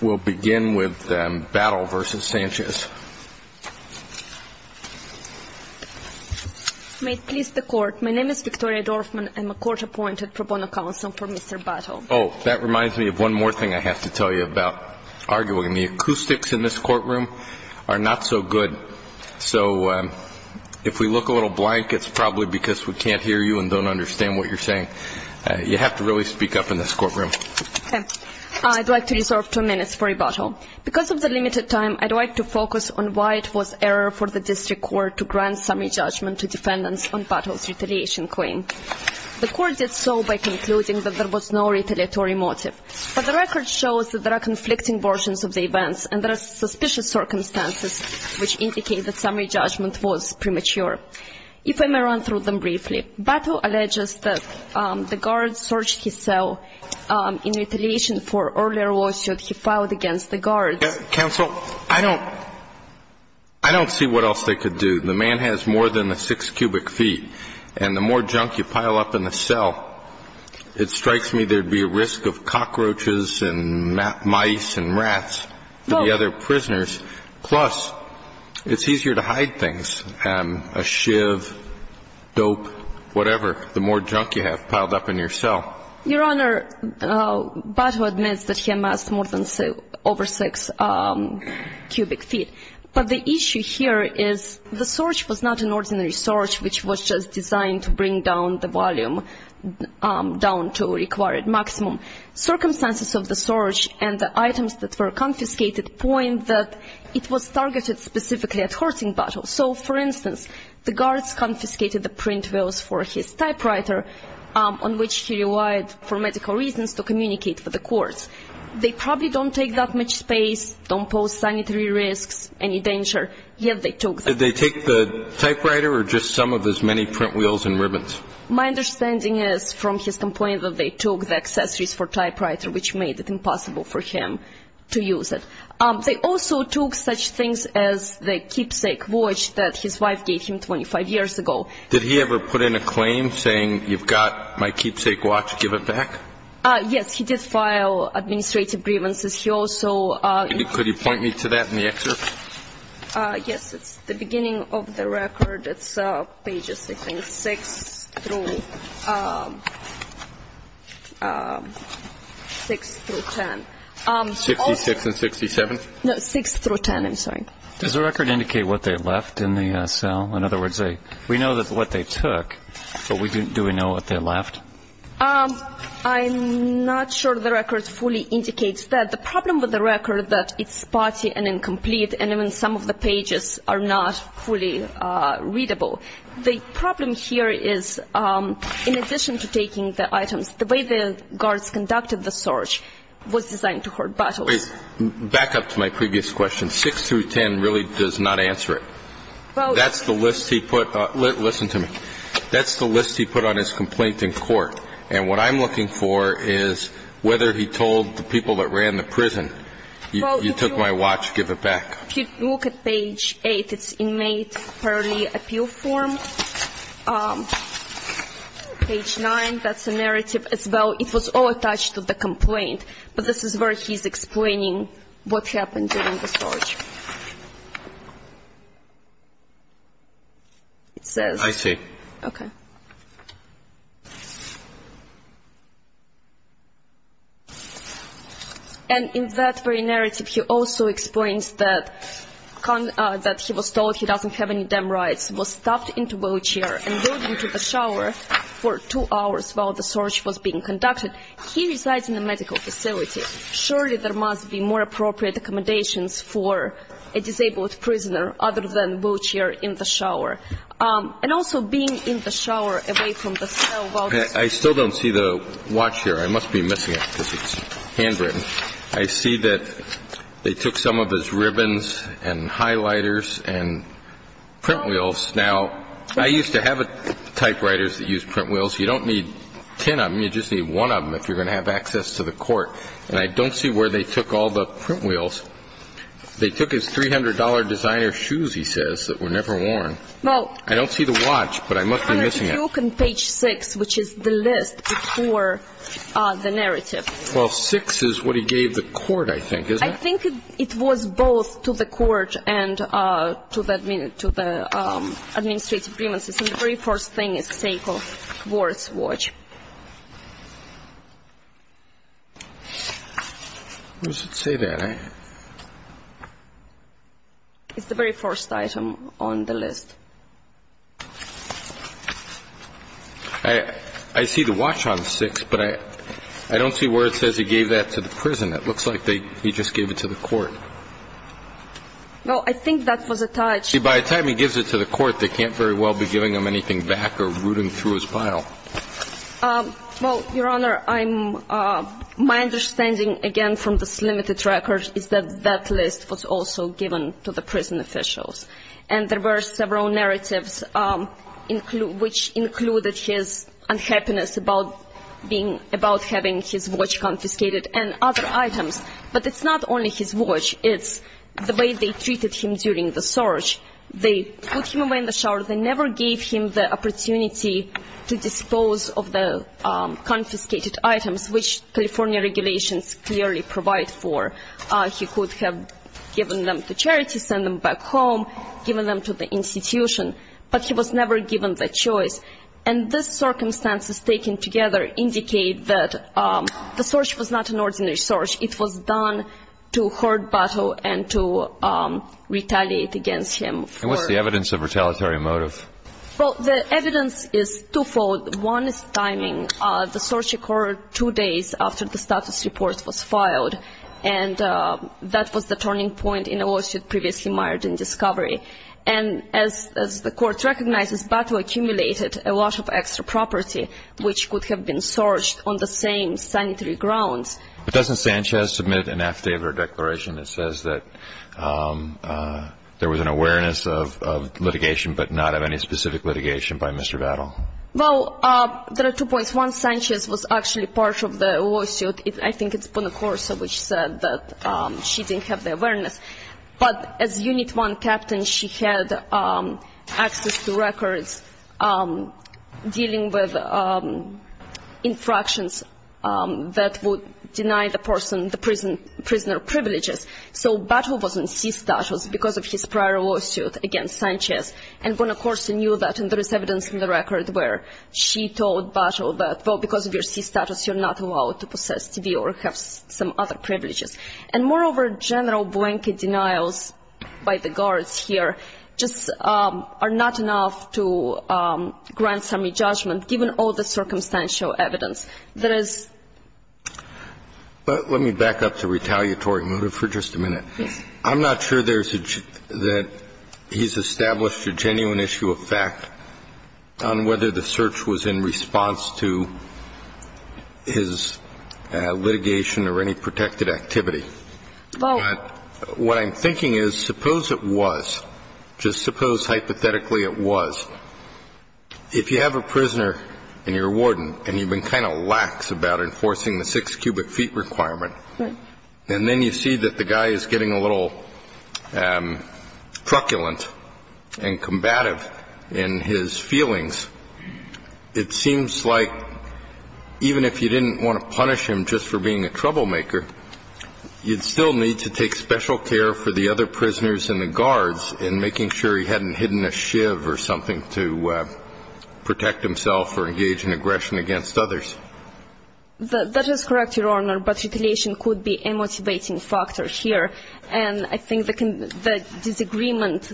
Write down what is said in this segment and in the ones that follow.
We'll begin with Battle v. Sanchez. May it please the court, my name is Victoria Dorfman, I'm a court-appointed pro bono counsel for Mr. Battle. Oh, that reminds me of one more thing I have to tell you about arguing. The acoustics in this courtroom are not so good. So if we look a little blank, it's probably because we can't hear you and don't understand what you're saying. You have to really speak up in this courtroom. I'd like to reserve two minutes for rebuttal. Because of the limited time, I'd like to focus on why it was error for the district court to grant summary judgment to defendants on Battle's retaliation claim. The court did so by concluding that there was no retaliatory motive. But the record shows that there are conflicting versions of the events and there are suspicious circumstances which indicate that summary judgment was premature. If I may run through them briefly. Battle alleges that the guards searched his cell in retaliation for earlier lawsuit he filed against the guards. Counsel, I don't see what else they could do. The man has more than a six cubic feet. And the more junk you pile up in the cell, it strikes me there would be a risk of cockroaches and mice and rats to the other prisoners. Plus, it's easier to hide things, a shiv, dope, whatever, the more junk you have piled up in your cell. Your Honor, Battle admits that he amassed more than over six cubic feet. But the issue here is the search was not an ordinary search which was just designed to bring down the volume down to a required maximum. Circumstances of the search and the items that were confiscated point that it was targeted specifically at Horton Battle. So, for instance, the guards confiscated the print wheels for his typewriter on which he relied for medical reasons to communicate with the courts. They probably don't take that much space, don't pose sanitary risks, any danger, yet they took them. Did they take the typewriter or just some of his many print wheels and ribbons? My understanding is from his complaint that they took the accessories for typewriter which made it impossible for him to use it. They also took such things as the keepsake watch that his wife gave him 25 years ago. Did he ever put in a claim saying you've got my keepsake watch, give it back? Yes, he did file administrative grievances. He also – Could you point me to that in the excerpt? Yes, it's the beginning of the record. It's pages 6 through 10. 66 and 67? No, 6 through 10, I'm sorry. Does the record indicate what they left in the cell? In other words, we know what they took, but do we know what they left? I'm not sure the record fully indicates that. The problem with the record is that it's spotty and incomplete, and even some of the pages are not fully readable. The problem here is in addition to taking the items, the way the guards conducted the search was designed to hurt battles. Back up to my previous question. 6 through 10 really does not answer it. That's the list he put – listen to me. That's the list he put on his complaint in court. And what I'm looking for is whether he told the people that ran the prison, you took my watch, give it back. If you look at page 8, it's inmate early appeal form. Page 9, that's a narrative as well. It was all attached to the complaint. But this is where he's explaining what happened during the search. It says – I see. Okay. And in that very narrative, he also explains that he was told he doesn't have any dam rights, was stuffed into wheelchair, and went into the shower for two hours while the search was being conducted. He resides in a medical facility. Surely there must be more appropriate accommodations for a disabled prisoner other than wheelchair in the shower. And also being in the shower away from the cell while – I still don't see the watch here. I must be missing it because it's handwritten. I see that they took some of his ribbons and highlighters and print wheels. Now, I used to have typewriters that used print wheels. You don't need ten of them. You just need one of them if you're going to have access to the court. And I don't see where they took all the print wheels. They took his $300 designer shoes, he says, that were never worn. I don't see the watch, but I must be missing it. Well, under the book on page 6, which is the list before the narrative. Well, 6 is what he gave the court, I think, isn't it? I think it was both to the court and to the administrative grievances. The very first thing is sake of Ward's watch. Who's to say that? It's the very first item on the list. I see the watch on 6, but I don't see where it says he gave that to the prison. It looks like he just gave it to the court. Well, I think that was attached. See, by the time he gives it to the court, they can't very well be giving him anything back or rooting through his pile. Well, Your Honor, my understanding, again, from this limited record, is that that list was also given to the prison officials. And there were several narratives which included his unhappiness about having his watch confiscated and other items. But it's not only his watch. It's the way they treated him during the search. They put him away in the shower. They never gave him the opportunity to dispose of the confiscated items, which California regulations clearly provide for. He could have given them to charity, sent them back home, given them to the institution. But he was never given that choice. And the circumstances taken together indicate that the search was not an ordinary search. It was done to hurt Battle and to retaliate against him. And what's the evidence of retaliatory motive? Well, the evidence is twofold. One is timing. The search occurred two days after the status report was filed. And that was the turning point in a lawsuit previously mired in discovery. And as the court recognizes, Battle accumulated a lot of extra property, which could have been searched on the same sanitary grounds. But doesn't Sanchez submit an affidavit or declaration that says that there was an awareness of litigation but not of any specific litigation by Mr. Battle? Well, there are two points. One, Sanchez was actually part of the lawsuit. I think it's Bonacorsa which said that she didn't have the awareness. But as Unit 1 captain, she had access to records dealing with infractions that would deny the prisoner privileges. So Battle was in C status because of his prior lawsuit against Sanchez. And Bonacorsa knew that, and there is evidence in the record where she told Battle that, well, because of your C status, you're not allowed to possess TV or have some other privileges. And moreover, general blanket denials by the guards here just are not enough to grant some re-judgment, given all the circumstantial evidence. But let me back up to retaliatory motive for just a minute. Yes. I'm not sure that he's established a genuine issue of fact on whether the search was in response to his litigation or any protected activity. But what I'm thinking is, suppose it was. Just suppose hypothetically it was. If you have a prisoner and you're a warden and you've been kind of lax about enforcing the six cubic feet requirement, and then you see that the guy is getting a little truculent and combative in his feelings, it seems like even if you didn't want to punish him just for being a troublemaker, you'd still need to take special care for the other prisoners and the guards in making sure he hadn't hidden a shiv or something to protect himself or engage in aggression against others. That is correct, Your Honor, but retaliation could be a motivating factor here. And I think the disagreement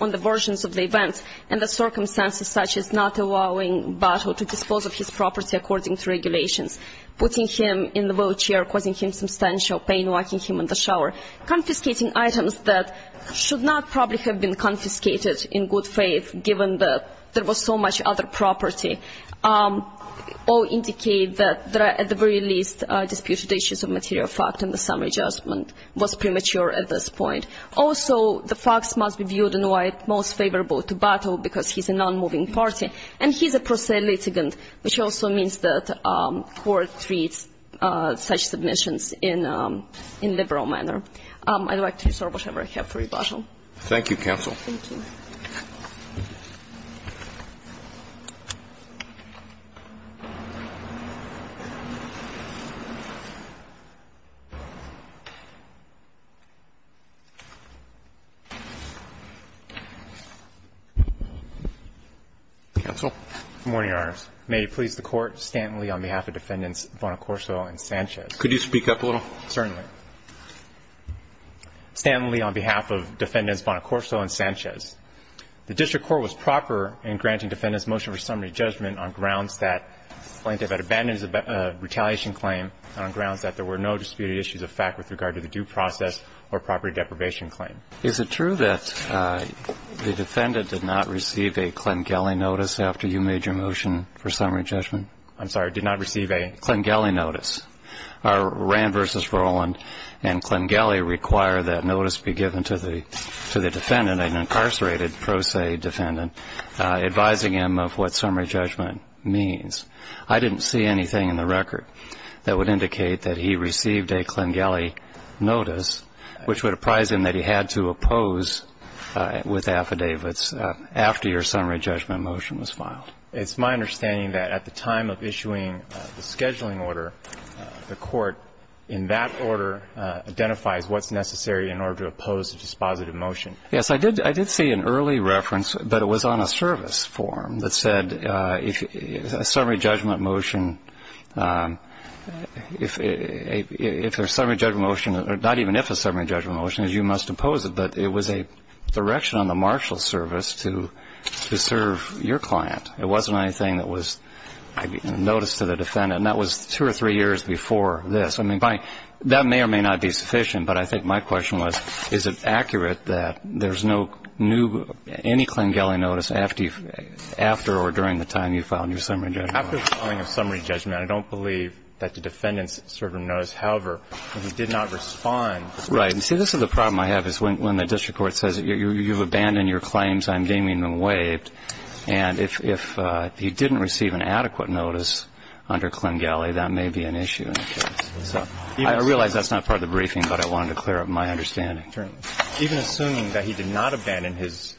on the versions of the events and the circumstances such as not allowing Buttle to dispose of his property according to regulations, putting him in the wheelchair, causing him substantial pain, locking him in the shower, confiscating items that should not probably have been confiscated in good faith, given that there was so much other property, all indicate that there are at the very least disputed issues of material fact and the summary judgment was premature at this point. Also, the facts must be viewed in a way most favorable to Buttle because he's a non-moving party, and he's a prosaic litigant, which also means that court treats such submissions in a liberal manner. I'd like to reserve whatever I have for you, Buttle. Thank you, counsel. Thank you. Thank you. Counsel? Good morning, Your Honors. May it please the Court, Stanton Lee on behalf of Defendants Bonacorso and Sanchez. Could you speak up a little? Certainly. Stanton Lee on behalf of Defendants Bonacorso and Sanchez. The district court was proper in granting defendants motion for summary judgment on grounds that plaintiff had abandoned his retaliation claim on grounds that there were no disputed issues of fact with regard to the due process or property deprivation claim. Is it true that the defendant did not receive a Klingeli notice after you made your motion for summary judgment? I'm sorry, did not receive a? Klingeli notice. Our Rand v. Roland and Klingeli require that notice be given to the defendant, an incarcerated prosaic defendant, advising him of what summary judgment means. I didn't see anything in the record that would indicate that he received a Klingeli notice, which would apprise him that he had to oppose with affidavits after your summary judgment motion was filed. It's my understanding that at the time of issuing the scheduling order, the court in that order identifies what's necessary in order to oppose a dispositive motion. Yes, I did see an early reference, but it was on a service form that said if a summary judgment motion, if a summary judgment motion, not even if a summary judgment motion, as you must oppose it, but it was a direction on the marshal service to serve your client. It wasn't anything that was noticed to the defendant. And that was two or three years before this. I mean, that may or may not be sufficient, but I think my question was, is it accurate that there's no new, any Klingeli notice after or during the time you filed your summary judgment? After the filing of summary judgment, I don't believe that the defendant served a notice. However, if he did not respond. Right. You see, this is the problem I have is when the district court says you've abandoned your claims, I'm deeming them waived, and if he didn't receive an adequate notice under Klingeli, that may be an issue. So I realize that's not part of the briefing, but I wanted to clear up my understanding. Even assuming that he did not abandon his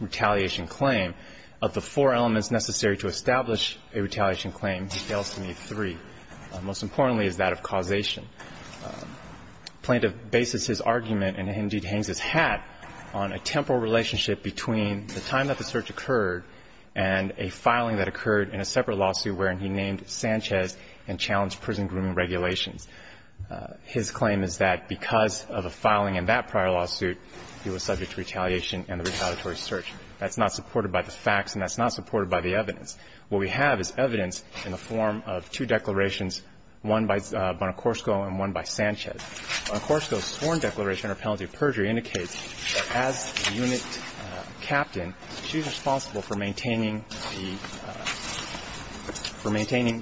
retaliation claim, of the four elements necessary to establish a retaliation claim, he fails to meet three. Most importantly is that of causation. Plaintiff bases his argument and indeed hangs his hat on a temporal relationship between the time that the search occurred and a filing that occurred in a separate lawsuit wherein he named Sanchez and challenged prison grooming regulations. His claim is that because of a filing in that prior lawsuit, he was subject to retaliation and the retaliatory search. That's not supported by the facts and that's not supported by the evidence. What we have is evidence in the form of two declarations, one by Bonacorso and one by Sanchez. Bonacorso's sworn declaration or penalty of perjury indicates that as the unit captain, she's responsible for maintaining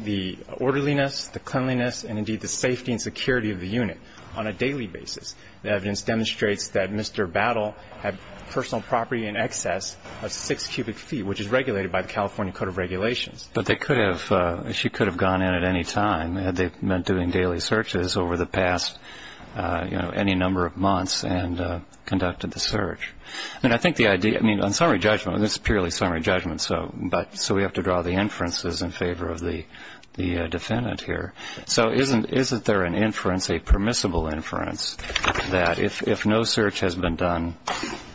the orderliness, the cleanliness, and indeed the safety and security of the unit on a daily basis. The evidence demonstrates that Mr. Battle had personal property in excess of six cubic feet, which is regulated by the California Code of Regulations. But they could have, she could have gone in at any time, had they meant doing daily searches over the past, you know, any number of months and conducted the search. And I think the idea, I mean, on summary judgment, this is purely summary judgment, so we have to draw the inferences in favor of the defendant here. So isn't there an inference, a permissible inference, that if no search has been done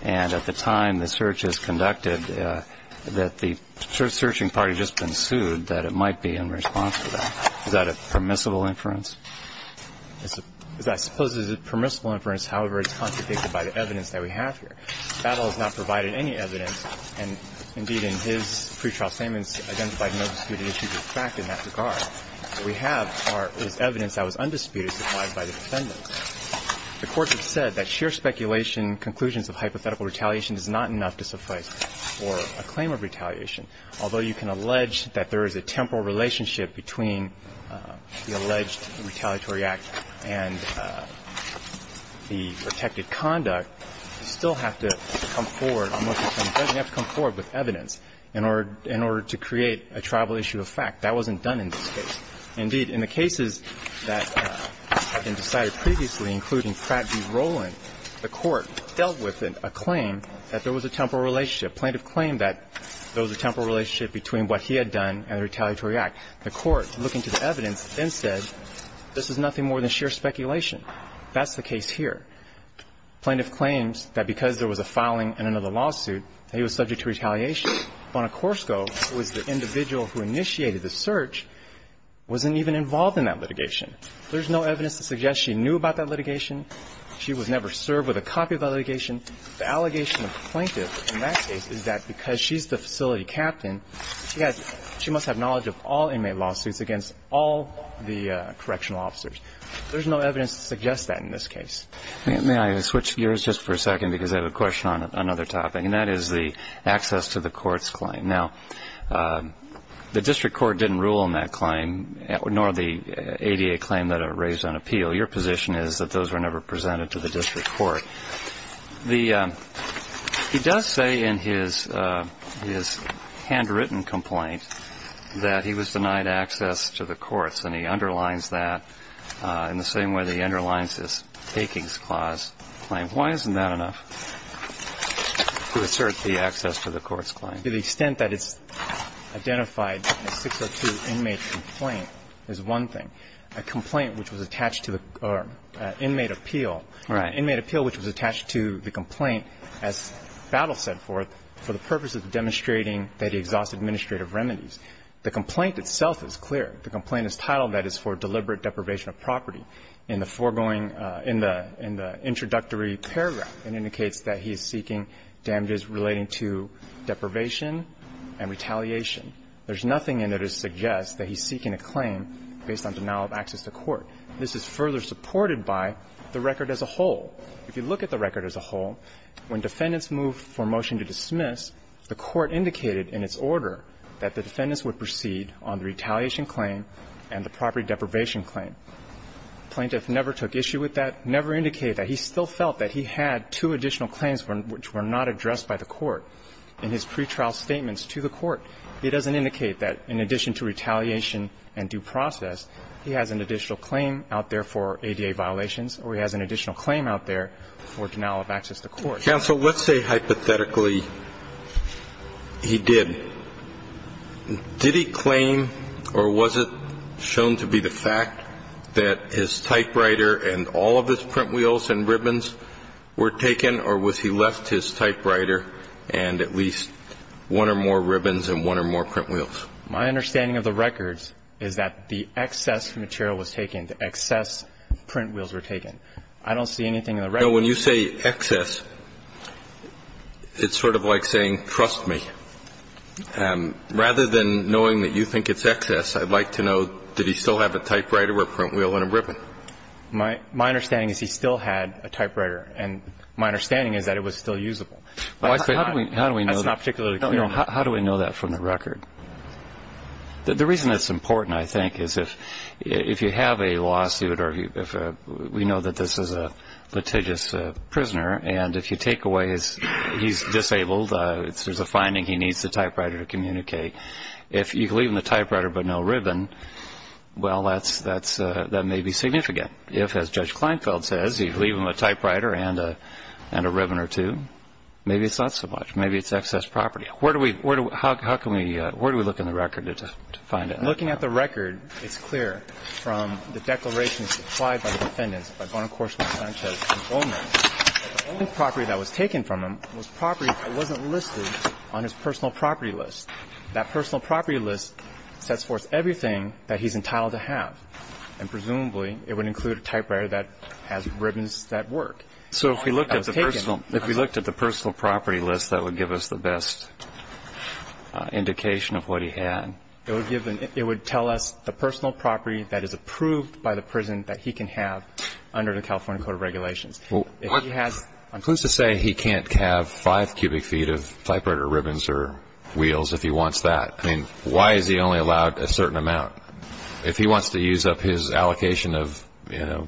and at the time the search is conducted that the searching party has just been sued, that it might be in response to that? Is that a permissible inference? I suppose it is a permissible inference. However, it's contradicted by the evidence that we have here. Battle has not provided any evidence, and indeed in his pretrial statements identified no disputed issues of fact in that regard. What we have is evidence that was undisputed supplied by the defendant. The Court has said that sheer speculation, conclusions of hypothetical retaliation is not enough to suffice for a claim of retaliation. Although you can allege that there is a temporal relationship between the alleged retaliatory act and the protected conduct, you still have to come forward on what you can do. You have to come forward with evidence in order to create a tribal issue of fact. That wasn't done in this case. Indeed, in the cases that have been decided previously, including Pratt v. Rowland, the Court dealt with a claim that there was a temporal relationship. Plaintiff claimed that there was a temporal relationship between what he had done and the retaliatory act. The Court, looking to the evidence, then said this is nothing more than sheer speculation. That's the case here. Plaintiff claims that because there was a filing in another lawsuit, he was subject to retaliation. Bonacorso, who was the individual who initiated the search, wasn't even involved in that litigation. There's no evidence to suggest she knew about that litigation. She was never served with a copy of that litigation. The allegation of the plaintiff in that case is that because she's the facility captain, she must have knowledge of all inmate lawsuits against all the correctional officers. There's no evidence to suggest that in this case. May I switch gears just for a second because I have a question on another topic, and that is the access to the courts claim. Now, the district court didn't rule on that claim, nor the ADA claim that it raised on appeal. Your position is that those were never presented to the district court. He does say in his handwritten complaint that he was denied access to the courts, and he underlines that in the same way that he underlines his takings clause claim. Why isn't that enough? To assert the access to the courts claim. To the extent that it's identified in a 602 inmate complaint is one thing. A complaint which was attached to the inmate appeal. Right. An inmate appeal which was attached to the complaint as battle set forth for the purpose of demonstrating that he exhausted administrative remedies. The complaint itself is clear. The complaint is titled that it's for deliberate deprivation of property. Now, in the foregoing, in the introductory paragraph, it indicates that he is seeking damages relating to deprivation and retaliation. There's nothing in it that suggests that he's seeking a claim based on denial of access to court. This is further supported by the record as a whole. If you look at the record as a whole, when defendants moved for motion to dismiss, the court indicated in its order that the defendants would proceed on the retaliation claim and the property deprivation claim. The plaintiff never took issue with that, never indicated that. He still felt that he had two additional claims which were not addressed by the court in his pretrial statements to the court. It doesn't indicate that in addition to retaliation and due process, he has an additional claim out there for ADA violations or he has an additional claim out there for denial of access to court. Counsel, let's say hypothetically he did. Did he claim or was it shown to be the fact that his typewriter and all of his print wheels and ribbons were taken or was he left his typewriter and at least one or more ribbons and one or more print wheels? My understanding of the records is that the excess material was taken. The excess print wheels were taken. I don't see anything in the record. You know, when you say excess, it's sort of like saying trust me. Rather than knowing that you think it's excess, I'd like to know, did he still have a typewriter or a print wheel and a ribbon? My understanding is he still had a typewriter. And my understanding is that it was still usable. How do we know that? That's not particularly clear. How do we know that from the record? The reason that's important, I think, is if you have a lawsuit or if we know that this is a litigious prisoner and if you take away his, he's disabled, there's a finding he needs the typewriter to communicate. If you leave him the typewriter but no ribbon, well, that's, that may be significant. If, as Judge Kleinfeld says, you leave him a typewriter and a ribbon or two, maybe it's not so much. Maybe it's excess property. Where do we, how can we, where do we look in the record to find it? I'm looking at the record. It's clear from the declarations supplied by the defendants, by Bonacorso and Sanchez and Bowman, that the only property that was taken from him was property that wasn't listed on his personal property list. That personal property list sets forth everything that he's entitled to have. And presumably it would include a typewriter that has ribbons that work. So if we looked at the personal, if we looked at the personal property list, that would give us the best indication of what he had. It would give, it would tell us the personal property that is approved by the prison that he can have under the California Code of Regulations. If he has... I'm pleased to say he can't have five cubic feet of typewriter ribbons or wheels if he wants that. I mean, why is he only allowed a certain amount? If he wants to use up his allocation of, you know,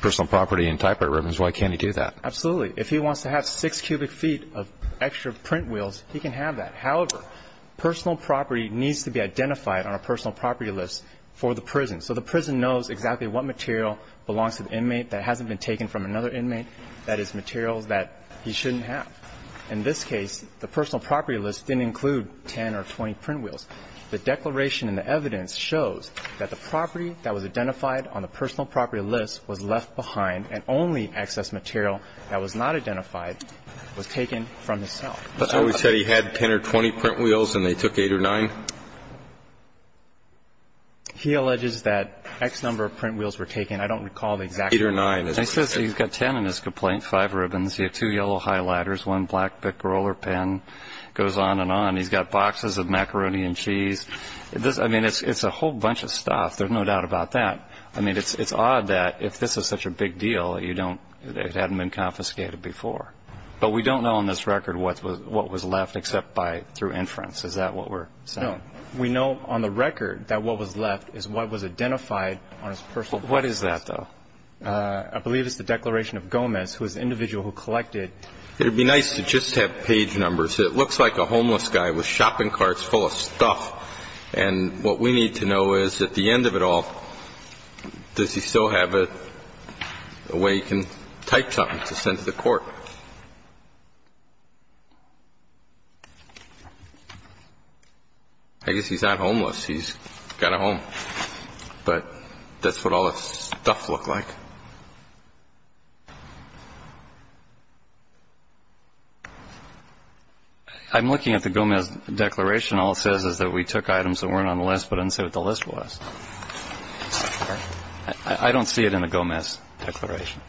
personal property and typewriter ribbons, why can't he do that? Absolutely. If he wants to have six cubic feet of extra print wheels, he can have that. However, personal property needs to be identified on a personal property list for the prison, so the prison knows exactly what material belongs to the inmate that hasn't been taken from another inmate, that is, materials that he shouldn't have. In this case, the personal property list didn't include 10 or 20 print wheels. The declaration in the evidence shows that the property that was identified on the personal property list was left behind, and only excess material that was not identified was taken from the cell. So he said he had 10 or 20 print wheels, and they took eight or nine? He alleges that X number of print wheels were taken. I don't recall the exact number. Eight or nine. He says he's got 10 in his complaint, five ribbons. He had two yellow highlighters, one black picker roller pen, goes on and on. He's got boxes of macaroni and cheese. I mean, it's a whole bunch of stuff. There's no doubt about that. I mean, it's odd that if this is such a big deal, it hadn't been confiscated before. But we don't know on this record what was left except through inference. Is that what we're saying? No. We know on the record that what was left is what was identified on his personal property list. What is that, though? I believe it's the declaration of Gomez, who is the individual who collected It would be nice to just have page numbers. It looks like a homeless guy with shopping carts full of stuff. And what we need to know is, at the end of it all, does he still have a way he can type something to send to the court? I guess he's not homeless. He's got a home. But that's what all the stuff looked like. I'm looking at the Gomez declaration. All it says is that we took items that weren't on the list but didn't say what the list was. I don't see it in the Gomez declaration.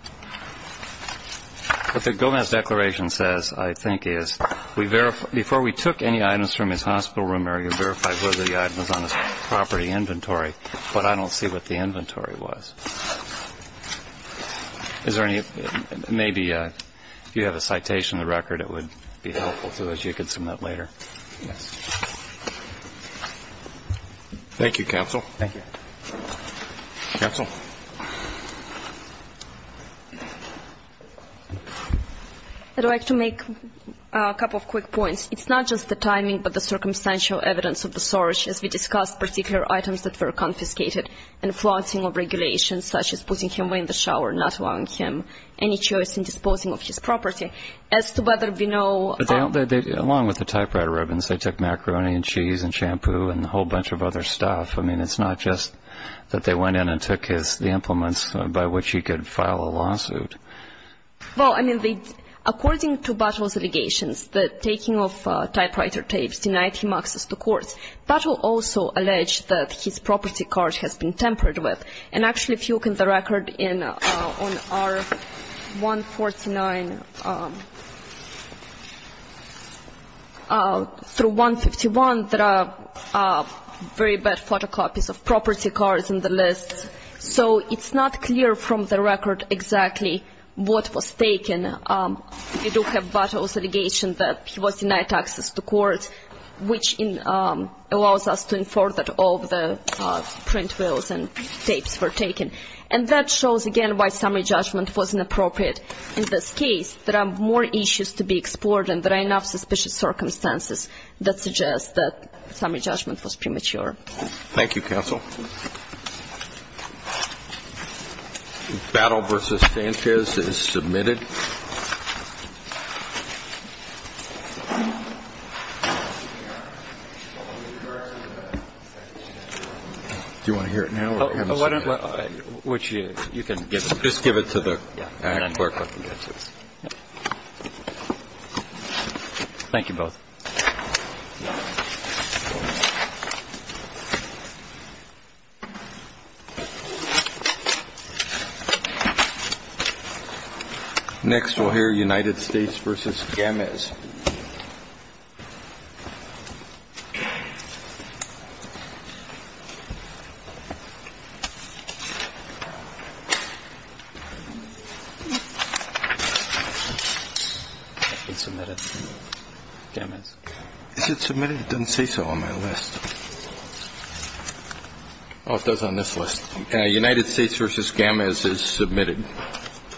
What the Gomez declaration says, I think, is before we took any items from his hospital room area, we verified whether the item was on his property inventory. But I don't see what the inventory was. Maybe if you have a citation of the record, it would be helpful to us. You could submit later. Yes. Thank you, counsel. Thank you. Counsel? I'd like to make a couple of quick points. It's not just the timing but the circumstantial evidence of the search, as we discussed particular items that were confiscated, and flaunting of regulations such as putting him away in the shower, not allowing him any choice in disposing of his property. As to whether we know of them. Along with the typewriter ribbons, they took macaroni and cheese and shampoo and a whole bunch of other stuff. I mean, it's not just that they went in and took the implements by which he could file a lawsuit. Well, I mean, according to Buttle's allegations, the taking of typewriter tapes denied him access to court. Buttle also alleged that his property card has been tampered with. And actually, if you look in the record on R149 through 151, there are very bad photocopies of property cards in the list. So it's not clear from the record exactly what was taken. You do have Buttle's allegation that he was denied access to court, which allows us to And that shows, again, why summary judgment wasn't appropriate. In this case, there are more issues to be explored and there are enough suspicious circumstances that suggest that summary judgment was premature. Thank you, counsel. Battle v. Sanchez is submitted. Do you want to hear it now? Which you can just give it to the network. Thank you both. Next, we'll hear United States v. Gemez. United States v. Gemez is submitted.